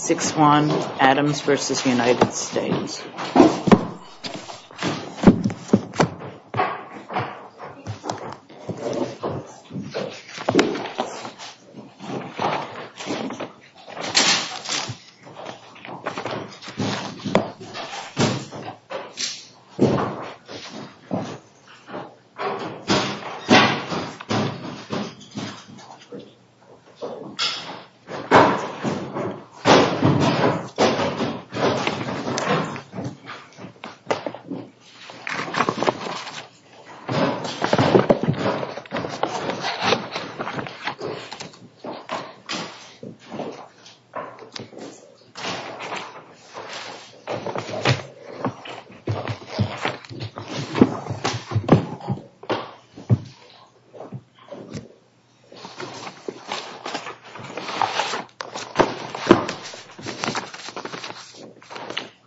6-1 Adams v. United States 6-1 Adams v. United States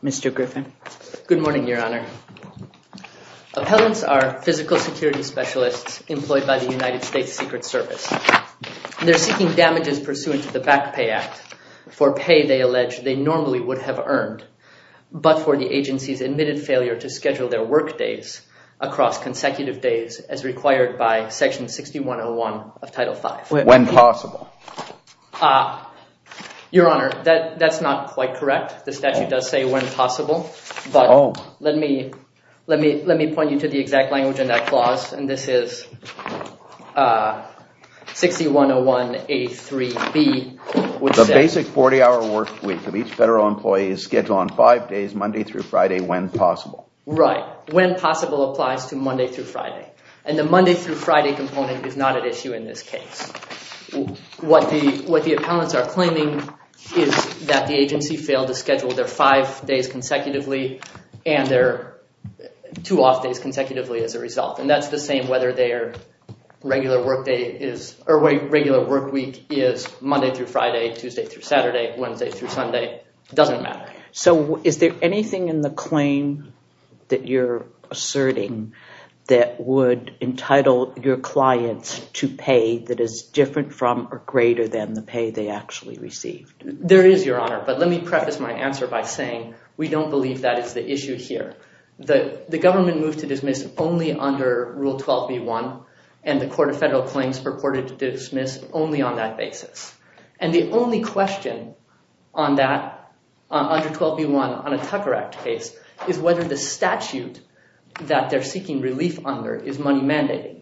Mr. Griffin. Good morning, Your Honor. Appellants are physical security specialists employed by the United States Secret Service. They're seeking damages pursuant to the Back Pay Act for pay they allege they normally would have earned but for the agency's admitted failure to schedule their work days across consecutive days as required by Section 6101 of Title V. When possible. Your Honor, that's not quite correct. The statute does say when possible. But let me point you to the exact language in that clause. And this is 6101A3B. The basic 40-hour work week of each federal employee is scheduled on five days, Monday through Friday, when possible. Right. When possible applies to Monday through Friday. And the Monday through Friday component is not at issue in this case. What the appellants are claiming is that the agency failed to schedule their five days consecutively and their two off days consecutively as a result. And that's the same whether their regular work day is or regular work week is Monday through Friday, Tuesday through Saturday, Wednesday through Sunday. It doesn't matter. So is there anything in the claim that you're asserting that would entitle your clients to pay that is different from or greater than the pay they actually received? There is, Your Honor. But let me preface my answer by saying we don't believe that is the issue here. The government moved to dismiss only under Rule 12b-1. And the Court of Federal Claims purported to dismiss only on that basis. And the only question on that, under 12b-1, on a Tucker Act case, is whether the statute that they're seeking relief under is money-mandating.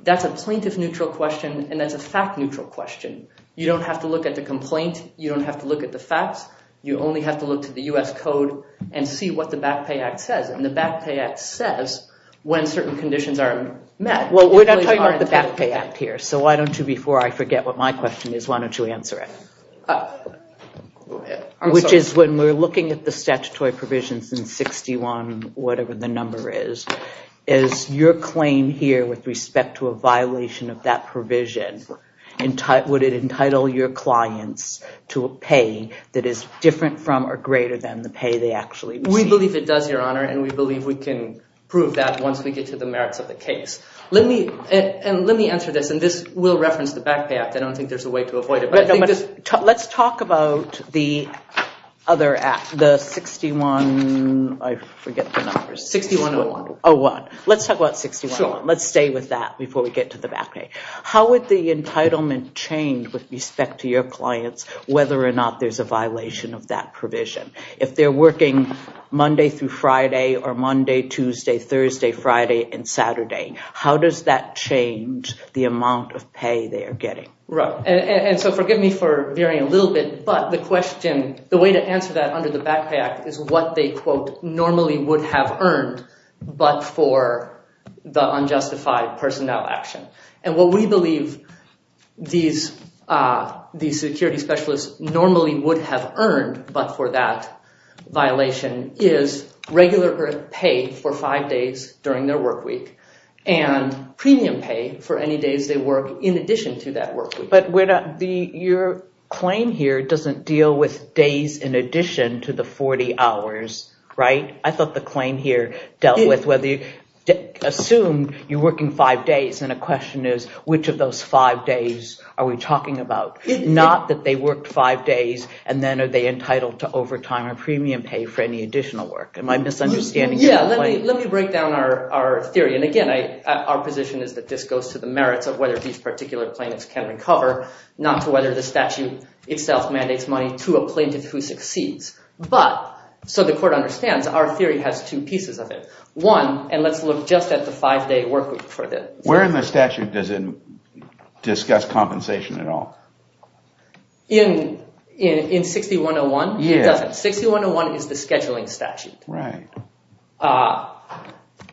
That's a plaintiff-neutral question and that's a fact-neutral question. You don't have to look at the complaint. You don't have to look at the facts. You only have to look to the U.S. Code and see what the Back Pay Act says. And the Back Pay Act says when certain conditions are met. Well, we're not talking about the Back Pay Act here. So why don't you, before I forget what my question is, why don't you answer it? Which is when we're looking at the statutory provisions in 61, whatever the number is, is your claim here with respect to a violation of that provision, would it entitle your clients to a pay that is different from or greater than the pay they actually receive? We believe it does, Your Honor, and we believe we can prove that once we get to the merits of the case. And let me answer this, and this will reference the Back Pay Act. I don't think there's a way to avoid it. Let's talk about the other act, the 61, I forget the numbers. 61-01. 01. Let's talk about 61-01. Let's stay with that before we get to the Back Pay. How would the entitlement change with respect to your clients whether or not there's a violation of that provision? If they're working Monday through Friday or Monday, Tuesday, Thursday, Friday, and Saturday, how does that change the amount of pay they are getting? Right, and so forgive me for veering a little bit, but the question, the way to answer that under the Back Pay Act is what they, quote, normally would have earned but for the unjustified personnel action. And what we believe these security specialists normally would have earned but for that violation is regular pay for five days during their work week and premium pay for any days they work in addition to that work week. But your claim here doesn't deal with days in addition to the 40 hours, right? I thought the claim here dealt with whether you assumed you're working five days and a question is which of those five days are we talking about? Not that they worked five days and then are they entitled to overtime or premium pay for any additional work. Am I misunderstanding? Yeah, let me break down our theory. And again, our position is that this goes to the merits of whether these particular plaintiffs can recover, not to whether the statute itself mandates money to a plaintiff who succeeds. But, so the court understands, our theory has two pieces of it. One, and let's look just at the five-day work week for this. Where in the statute does it discuss compensation at all? In 6101, it doesn't. 6101 is the scheduling statute. Right.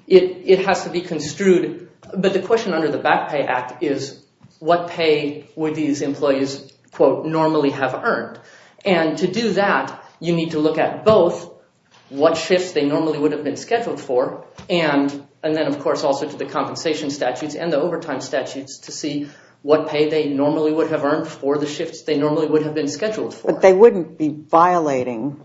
It has to be construed, but the question under the Back Pay Act is what pay would these employees, quote, normally have earned? And to do that, you need to look at both what shifts they normally would have been scheduled for and then, of course, also to the compensation statutes and the overtime statutes to see what pay they normally would have earned for the shifts they normally would have been scheduled for. But they wouldn't be violating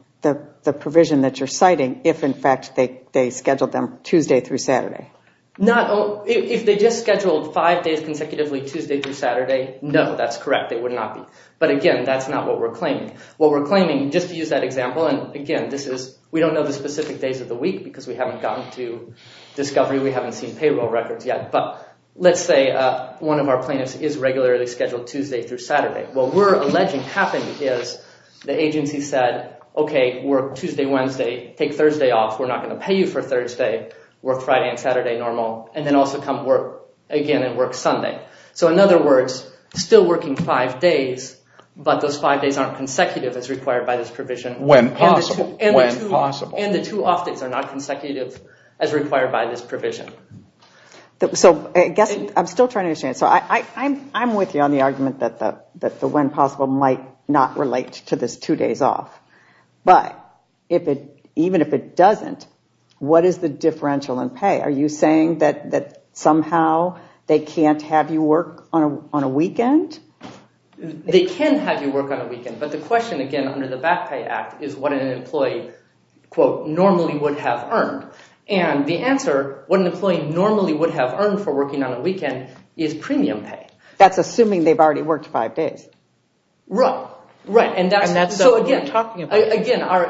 the provision that you're citing if, in fact, they scheduled them Tuesday through Saturday. If they just scheduled five days consecutively Tuesday through Saturday, no, that's correct. They would not be. But again, that's not what we're claiming. What we're claiming, just to use that example, and again, this is, we don't know the specific days of the week because we haven't gotten to discovery. We haven't seen payroll records yet. But let's say one of our plaintiffs is regularly scheduled Tuesday through Saturday. What we're alleging happened is the agency said, okay, work Tuesday, Wednesday. Take Thursday off. We're not going to pay you for Thursday. Work Friday and Saturday normal, and then also come work again and work Sunday. So in other words, still working five days, but those five days aren't consecutive as required by this provision. When possible. When possible. And the two off days are not consecutive as required by this provision. So I guess I'm still trying to understand. So I'm with you on the argument that the when possible might not relate to this two days off. But even if it doesn't, what is the differential in pay? Are you saying that somehow they can't have you work on a weekend? They can have you work on a weekend. But the question, again, under the Back Pay Act is what an employee, quote, normally would have earned. And the answer, what an employee normally would have earned for working on a weekend is premium pay. That's assuming they've already worked five days. Right. Right. And that's what we're talking about.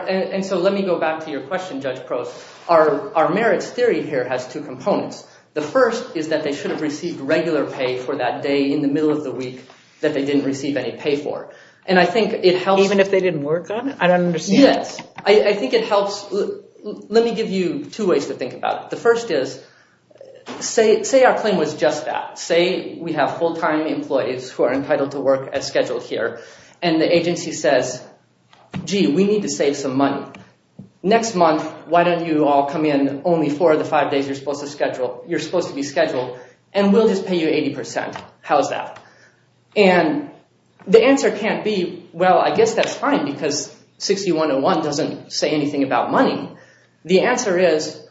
And so let me go back to your question, Judge Prost. Our merits theory here has two components. The first is that they should have received regular pay for that day in the middle of the week that they didn't receive any pay for. And I think it helps. Even if they didn't work on it? I don't understand. Yes. I think it helps. Let me give you two ways to think about it. The first is, say our claim was just that. Say we have full-time employees who are entitled to work as scheduled here. And the agency says, gee, we need to save some money. Next month, why don't you all come in only four of the five days you're supposed to schedule. You're supposed to be scheduled. And we'll just pay you 80%. How's that? And the answer can't be, well, I guess that's fine because 6101 doesn't say anything about money. The answer is,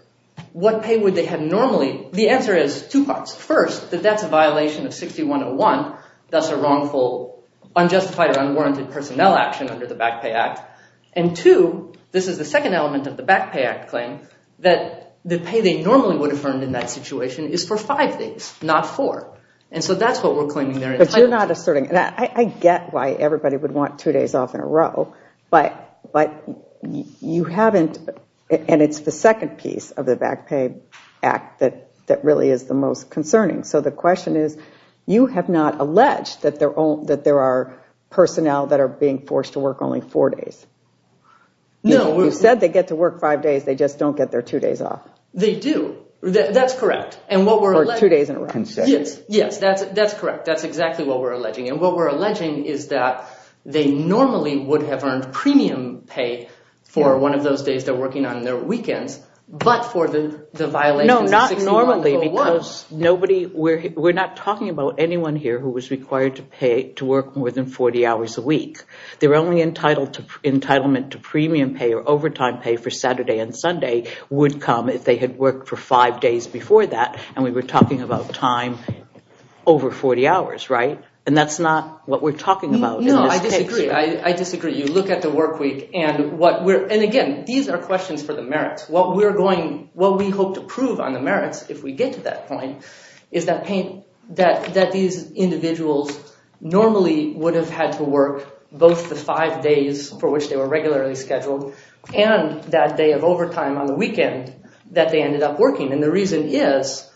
what pay would they have normally? The answer is two parts. First, that that's a violation of 6101. That's a wrongful, unjustified, or unwarranted personnel action under the Back Pay Act. And two, this is the second element of the Back Pay Act claim, that the pay they normally would have earned in that situation is for five days, not four. And so that's what we're claiming there. But you're not asserting – I get why everybody would want two days off in a row. But you haven't – and it's the second piece of the Back Pay Act that really is the most concerning. So the question is, you have not alleged that there are personnel that are being forced to work only four days. No. You said they get to work five days. They just don't get their two days off. They do. That's correct. For two days in a row. Yes, that's correct. That's exactly what we're alleging. And what we're alleging is that they normally would have earned premium pay for one of those days they're working on their weekends, but for the violations of 6101. No, not normally because nobody – we're not talking about anyone here who was required to work more than 40 hours a week. Their only entitlement to premium pay or overtime pay for Saturday and Sunday would come if they had worked for five days before that. And we were talking about time over 40 hours, right? And that's not what we're talking about in this picture. No, I disagree. I disagree. You look at the work week and what we're – and again, these are questions for the merits. What we're going – what we hope to prove on the merits if we get to that point is that these individuals normally would have had to work both the five days for which they were regularly scheduled And the reason is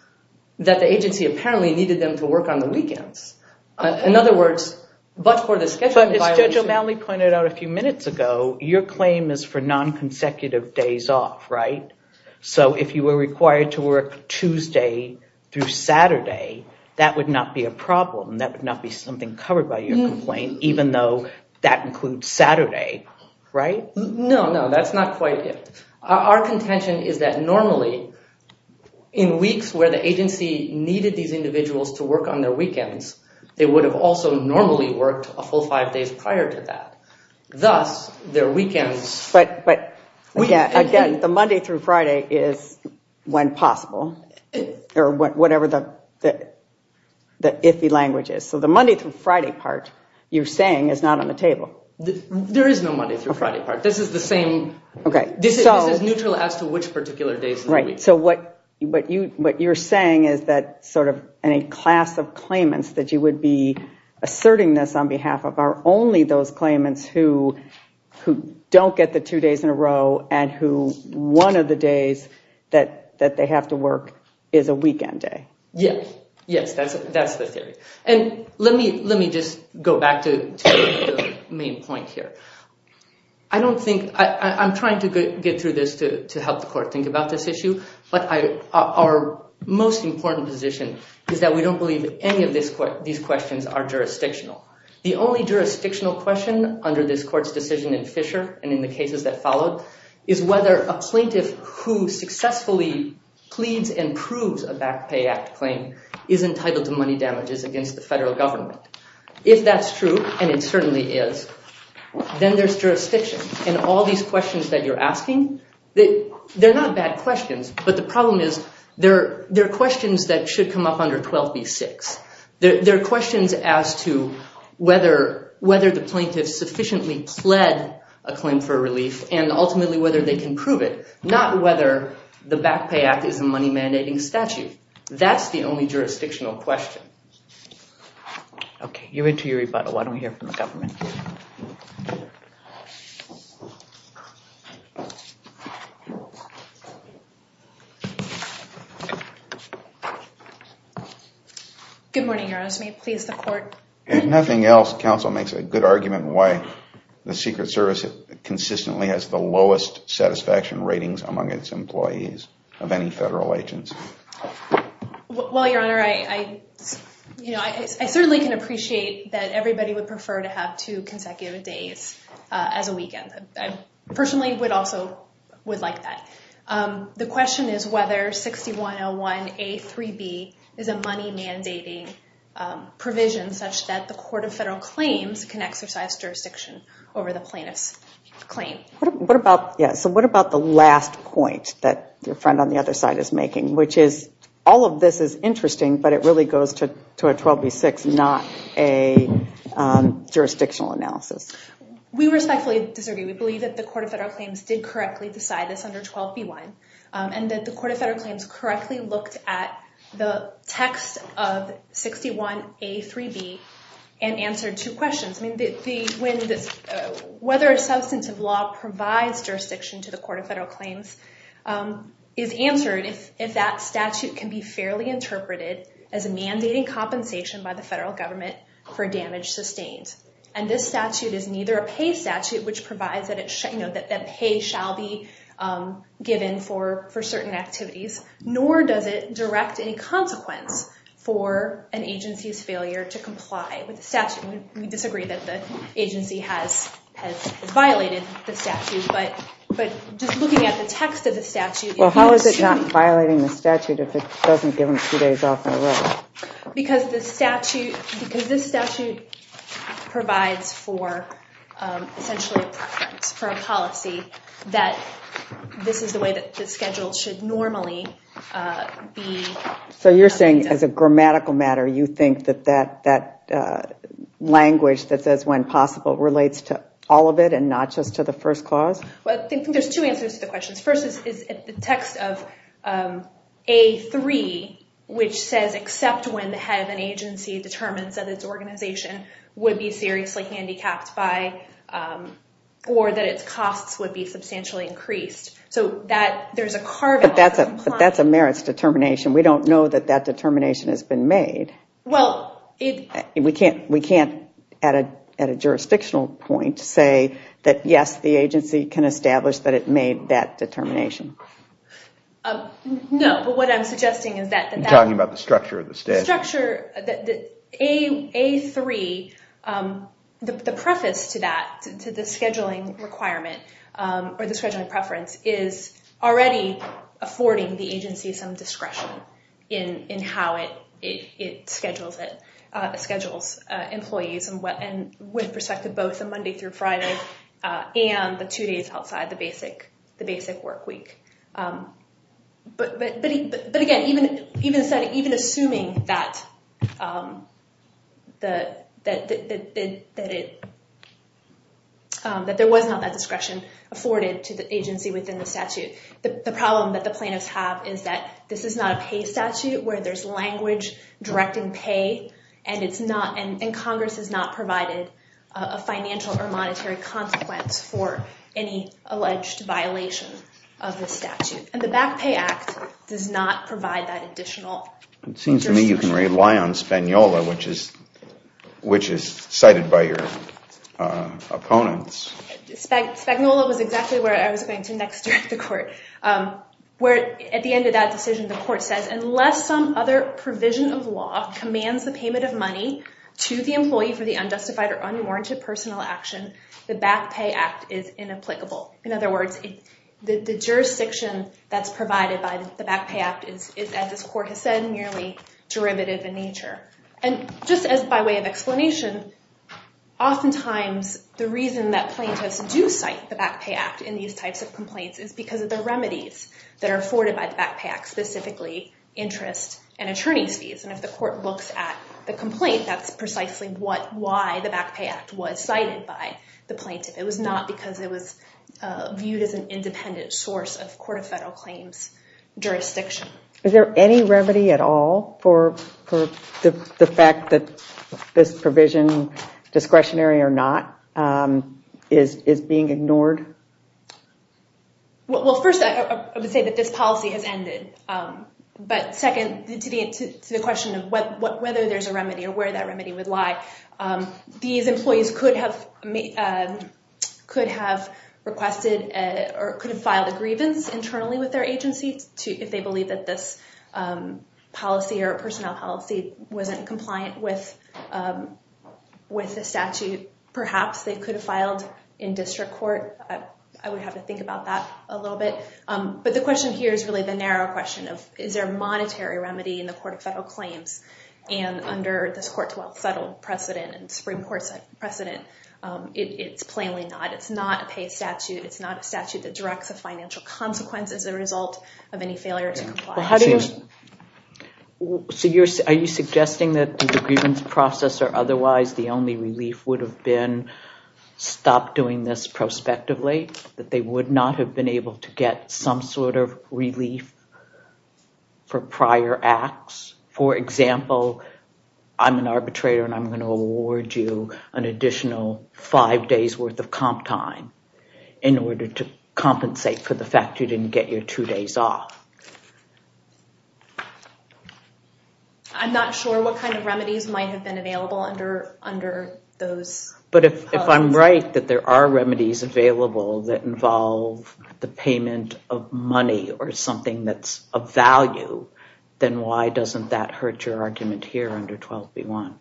that the agency apparently needed them to work on the weekends. In other words, but for the schedule violation – But as Judge O'Malley pointed out a few minutes ago, your claim is for non-consecutive days off, right? So if you were required to work Tuesday through Saturday, that would not be a problem. That would not be something covered by your complaint even though that includes Saturday, right? No, no. That's not quite it. Our contention is that normally in weeks where the agency needed these individuals to work on their weekends, they would have also normally worked a full five days prior to that. Thus, their weekends – But again, the Monday through Friday is when possible or whatever the iffy language is. So the Monday through Friday part you're saying is not on the table. There is no Monday through Friday part. This is the same – This is neutral as to which particular days of the week. So what you're saying is that sort of any class of claimants that you would be asserting this on behalf of are only those claimants who don't get the two days in a row and who one of the days that they have to work is a weekend day. Yes, that's the theory. And let me just go back to the main point here. I don't think – I'm trying to get through this to help the court think about this issue, but our most important position is that we don't believe any of these questions are jurisdictional. The only jurisdictional question under this court's decision in Fisher and in the cases that followed is whether a plaintiff who successfully pleads and proves a back pay act claim is entitled to money damages against the federal government. If that's true, and it certainly is, then there's jurisdiction. And all these questions that you're asking, they're not bad questions, but the problem is they're questions that should come up under 12b-6. They're questions as to whether the plaintiff sufficiently pled a claim for relief and ultimately whether they can prove it, not whether the back pay act is a money mandating statute. That's the only jurisdictional question. Okay, you're into your rebuttal. Why don't we hear from the government? Good morning, Your Honor. May it please the court? If nothing else, counsel makes a good argument why the Secret Service consistently has the lowest satisfaction ratings among its employees of any federal agency. Well, Your Honor, I certainly can appreciate that everybody would prefer to have two consecutive days as a weekend. I personally would also like that. The question is whether 6101a-3b is a money mandating provision such that the court of federal claims can exercise jurisdiction over the plaintiff's claim. So what about the last point that your friend on the other side is making, which is all of this is interesting, but it really goes to a 12b-6, not a jurisdictional analysis? We respectfully disagree. We believe that the court of federal claims did correctly decide this under 12b-1, and that the court of federal claims correctly looked at the text of 6101a-3b and answered two questions. Whether a substantive law provides jurisdiction to the court of federal claims is answered if that statute can be fairly interpreted as a mandating compensation by the federal government for damage sustained. And this statute is neither a pay statute, which provides that pay shall be given for certain activities, nor does it direct any consequence for an agency's failure to comply with the statute. We disagree that the agency has violated the statute, but just looking at the text of the statute... Well, how is it not violating the statute if it doesn't give them two days off their work? Because this statute provides for a policy that this is the way that the schedule should normally be... So you're saying as a grammatical matter, you think that that language that says when possible relates to all of it and not just to the first clause? Well, I think there's two answers to the questions. First is the text of a-3, which says, except when the head of an agency determines that its organization would be seriously handicapped or that its costs would be substantially increased. So there's a carving... But that's a merits determination. We don't know that that determination has been made. We can't, at a jurisdictional point, say that, yes, the agency can establish that it made that determination. No, but what I'm suggesting is that... You're talking about the structure of the statute. A-3, the preface to that, to the scheduling requirement or the scheduling preference, is already affording the agency some discretion in how it schedules employees and with respect to both the Monday through Friday and the two days outside the basic work week. But again, even assuming that there was not that discretion afforded to the agency within the statute, the problem that the plaintiffs have is that this is not a pay statute where there's language directing pay and Congress has not provided a financial or monetary consequence for any alleged violation of the statute. And the Back Pay Act does not provide that additional discretion. It seems to me you can rely on Spagnola, which is cited by your opponents. Spagnola was exactly where I was going to next during the court. At the end of that decision, the court says, unless some other provision of law commands the payment of money to the employee for the unjustified or unwarranted personal action, the Back Pay Act is inapplicable. In other words, the jurisdiction that's provided by the Back Pay Act is, as this court has said, merely derivative in nature. And just by way of explanation, oftentimes the reason that plaintiffs do cite the Back Pay Act in these types of complaints is because of the remedies that are afforded by the Back Pay Act, specifically interest and attorney's fees. And if the court looks at the complaint, that's precisely why the Back Pay Act was cited by the plaintiff. It was not because it was viewed as an independent source of court of federal claims jurisdiction. Is there any remedy at all for the fact that this provision, discretionary or not, is being ignored? Well, first, I would say that this policy has ended. But second, to the question of whether there's a remedy or where that remedy would lie, these employees could have requested or could have filed a grievance internally with their agency if they believe that this policy or personnel policy wasn't compliant with the statute. Perhaps they could have filed in district court. I would have to think about that a little bit. But the question here is really the narrow question of, is there a monetary remedy in the court of federal claims? And under this Court 12 settle precedent and Supreme Court precedent, it's plainly not. It's not a pay statute. It's not a statute that directs a financial consequence as a result of any failure to comply. So are you suggesting that the grievance process or otherwise the only relief would have been stop doing this prospectively? That they would not have been able to get some sort of relief for prior acts? For example, I'm an arbitrator and I'm going to award you an additional five days worth of comp time in order to compensate for the fact you didn't get your two days off. I'm not sure what kind of remedies might have been available under those. But if I'm right that there are remedies available that involve the payment of money or something that's of value, then why doesn't that hurt your argument here under 12b-1?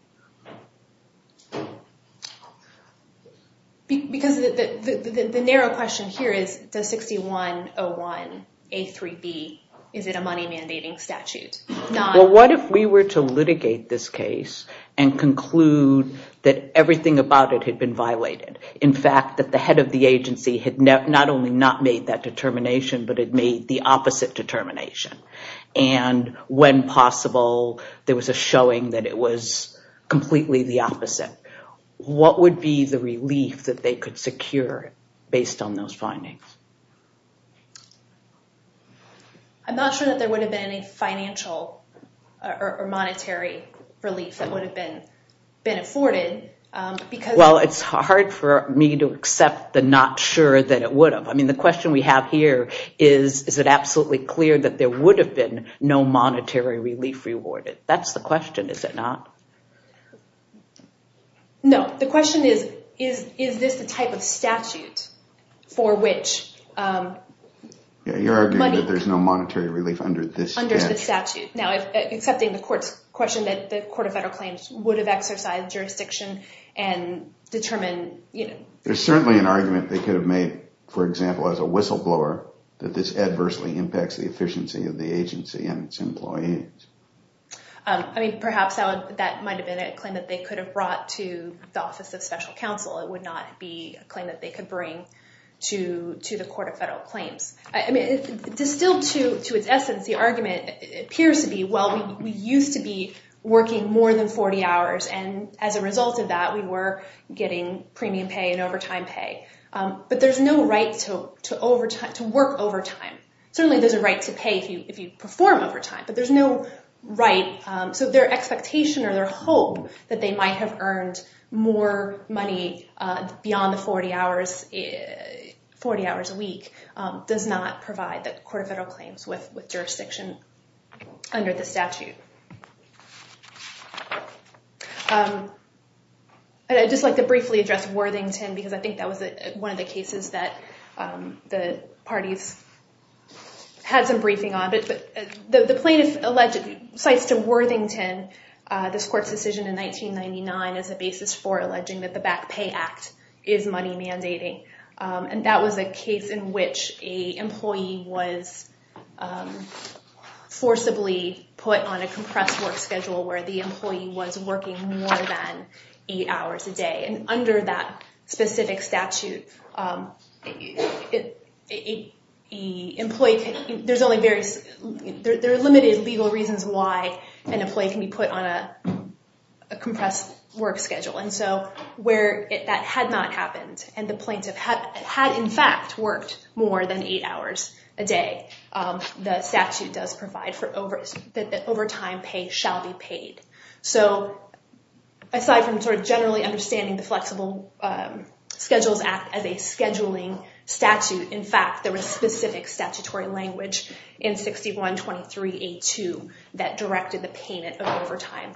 Because the narrow question here is, does 6101a-3b, is it a money mandating statute? Well, what if we were to litigate this case and conclude that everything about it had been violated? In fact, that the head of the agency had not only not made that determination, but it made the opposite determination. And when possible, there was a showing that it was completely the opposite. What would be the relief that they could secure based on those findings? I'm not sure that there would have been any financial or monetary relief that would have been afforded. Well, it's hard for me to accept the not sure that it would have. The question we have here is, is it absolutely clear that there would have been no monetary relief rewarded? That's the question, is it not? No. The question is, is this the type of statute for which money— You're arguing that there's no monetary relief under this statute. Now, accepting the question that the Court of Federal Claims would have exercised jurisdiction and determined— There's certainly an argument they could have made, for example, as a whistleblower, that this adversely impacts the efficiency of the agency and its employees. I mean, perhaps that might have been a claim that they could have brought to the Office of Special Counsel. It would not be a claim that they could bring to the Court of Federal Claims. I mean, distilled to its essence, the argument appears to be, well, we used to be working more than 40 hours, and as a result of that, we were getting premium pay and overtime pay. But there's no right to work overtime. Certainly there's a right to pay if you perform overtime, but there's no right— So their expectation or their hope that they might have earned more money beyond the 40 hours a week does not provide the Court of Federal Claims with jurisdiction under the statute. I'd just like to briefly address Worthington, because I think that was one of the cases that the parties had some briefing on. The plaintiff cites to Worthington this court's decision in 1999 as a basis for alleging that the Back Pay Act is money mandating. And that was a case in which an employee was forcibly put on a compressed work schedule where the employee was working more than eight hours a day. And under that specific statute, there are limited legal reasons why an employee can be put on a compressed work schedule. And so where that had not happened, and the plaintiff had in fact worked more than eight hours a day, the statute does provide that overtime pay shall be paid. So aside from sort of generally understanding the Flexible Schedules Act as a scheduling statute, in fact, there was specific statutory language in 6123a2 that directed the payment of overtime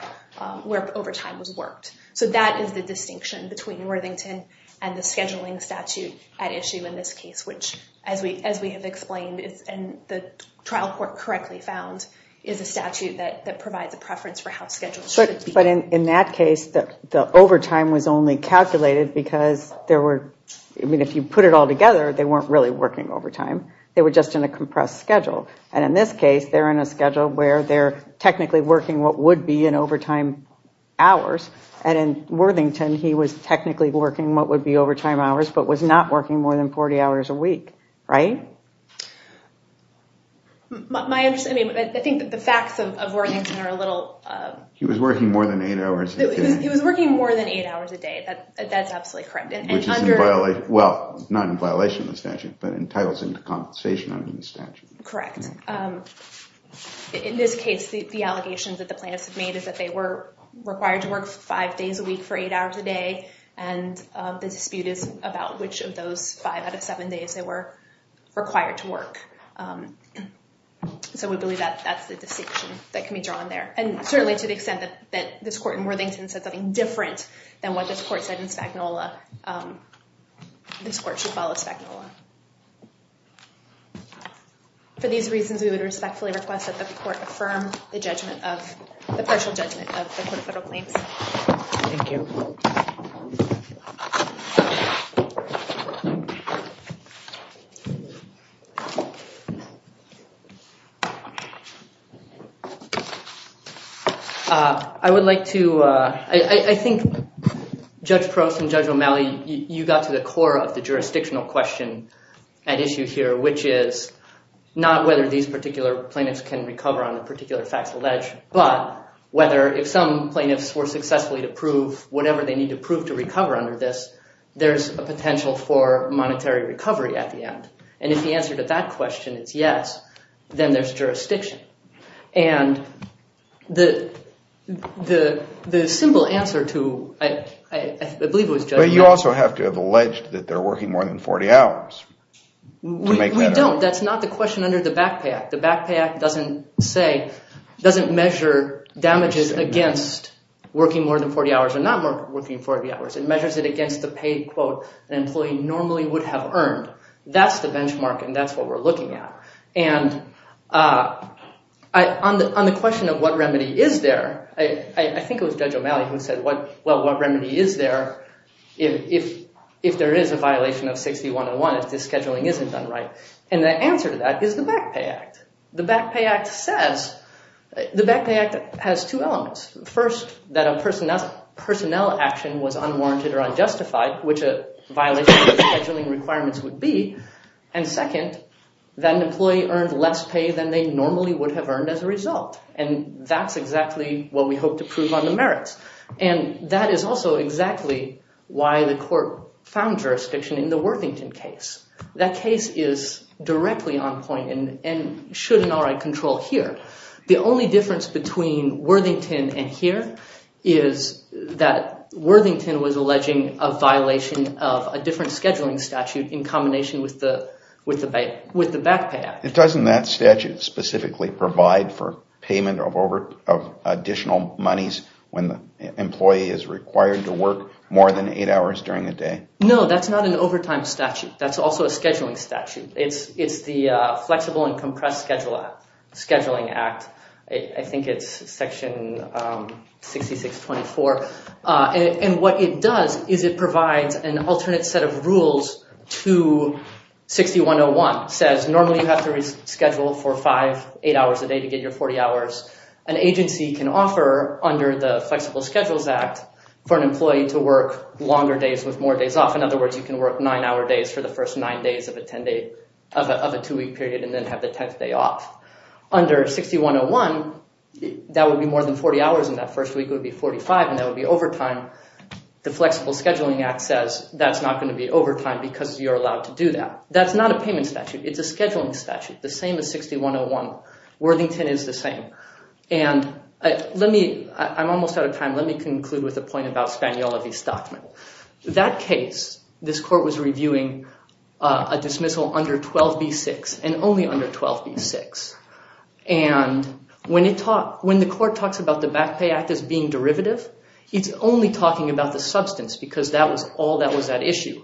where overtime was worked. So that is the distinction between Worthington and the scheduling statute at issue in this case, which, as we have explained and the trial court correctly found, is a statute that provides a preference for how schedules should be. But in that case, the overtime was only calculated because there were, I mean, if you put it all together, they weren't really working overtime. They were just in a compressed schedule. And in this case, they're in a schedule where they're technically working what would be in overtime hours. And in Worthington, he was technically working what would be overtime hours, but was not working more than 40 hours a week. Right? My understanding, I think that the facts of Worthington are a little. He was working more than eight hours. He was working more than eight hours a day. That's absolutely correct. Which is in violation, well, not in violation of the statute, but entitles him to compensation under the statute. Correct. In this case, the allegations that the plaintiffs have made is that they were required to work five days a week for eight hours a day. And the dispute is about which of those five out of seven days they were required to work. So we believe that that's the distinction that can be drawn there. And certainly to the extent that this court in Worthington said something different than what this court said in Spagnola, this court should follow Spagnola. For these reasons, we would respectfully request that the court affirm the judgment of the partial judgment of the court of federal claims. Thank you. I would like to, I think Judge Prost and Judge O'Malley, you got to the core of the jurisdictional question at issue here, which is not whether these particular plaintiffs can recover on the particular facts alleged, but whether if some plaintiffs were successfully to prove whatever they need to prove to recover under this, there's a potential for monetary recovery at the end. And if the answer to that question is yes, then there's jurisdiction. And the simple answer to, I believe it was Judge O'Malley. But you also have to have alleged that they're working more than 40 hours to make better. We don't. That's not the question under the Back Pay Act. The Back Pay Act doesn't say, doesn't measure damages against working more than 40 hours or not working 40 hours. It measures it against the paid quote an employee normally would have earned. That's the benchmark and that's what we're looking at. And on the question of what remedy is there, I think it was Judge O'Malley who said, well, what remedy is there if there is a violation of 60-101 if the scheduling isn't done right? And the answer to that is the Back Pay Act. The Back Pay Act says, the Back Pay Act has two elements. First, that a personnel action was unwarranted or unjustified, which a violation of the scheduling requirements would be. And second, that an employee earned less pay than they normally would have earned as a result. And that's exactly what we hope to prove on the merits. And that is also exactly why the court found jurisdiction in the Worthington case. That case is directly on point and should in all right control here. The only difference between Worthington and here is that Worthington was alleging a violation of a different scheduling statute in combination with the Back Pay Act. Doesn't that statute specifically provide for payment of additional monies when the employee is required to work more than eight hours during the day? No, that's not an overtime statute. That's also a scheduling statute. It's the Flexible and Compressed Scheduling Act. I think it's section 6624. And what it does is it provides an alternate set of rules to 6101. It says normally you have to reschedule for five, eight hours a day to get your 40 hours. An agency can offer under the Flexible Schedules Act for an employee to work longer days with more days off. In other words, you can work nine-hour days for the first nine days of a two-week period and then have the 10th day off. Under 6101, that would be more than 40 hours and that first week would be 45 and that would be overtime. The Flexible Scheduling Act says that's not going to be overtime because you're allowed to do that. That's not a payment statute. It's a scheduling statute, the same as 6101. Worthington is the same. And I'm almost out of time. Let me conclude with a point about Spaniola v. Stockman. That case, this court was reviewing a dismissal under 12b-6 and only under 12b-6. And when the court talks about the Back Pay Act as being derivative, it's only talking about the substance because that was all that was at issue.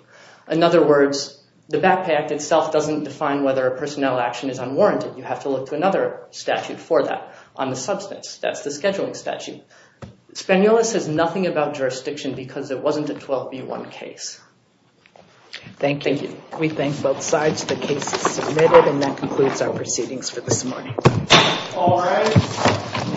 In other words, the Back Pay Act itself doesn't define whether a personnel action is unwarranted. You have to look to another statute for that on the substance. That's the scheduling statute. Spaniola says nothing about jurisdiction because it wasn't a 12b-1 case. Thank you. We thank both sides. The case is submitted and that concludes our proceedings for this morning. All rise.